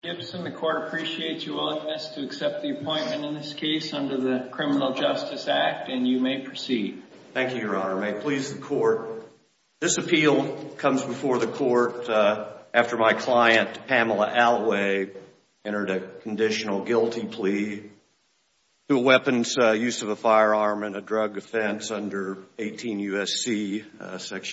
Gibson, the court appreciates your willingness to accept the appointment in this case under the Criminal Justice Act, and you may proceed. Thank you, Your Honor. May it please the court, this appeal comes before the court after my client, Pamela Alloway, entered a conditional guilty plea to a weapons use of a firearm and a drug offense under 18 U.S.C.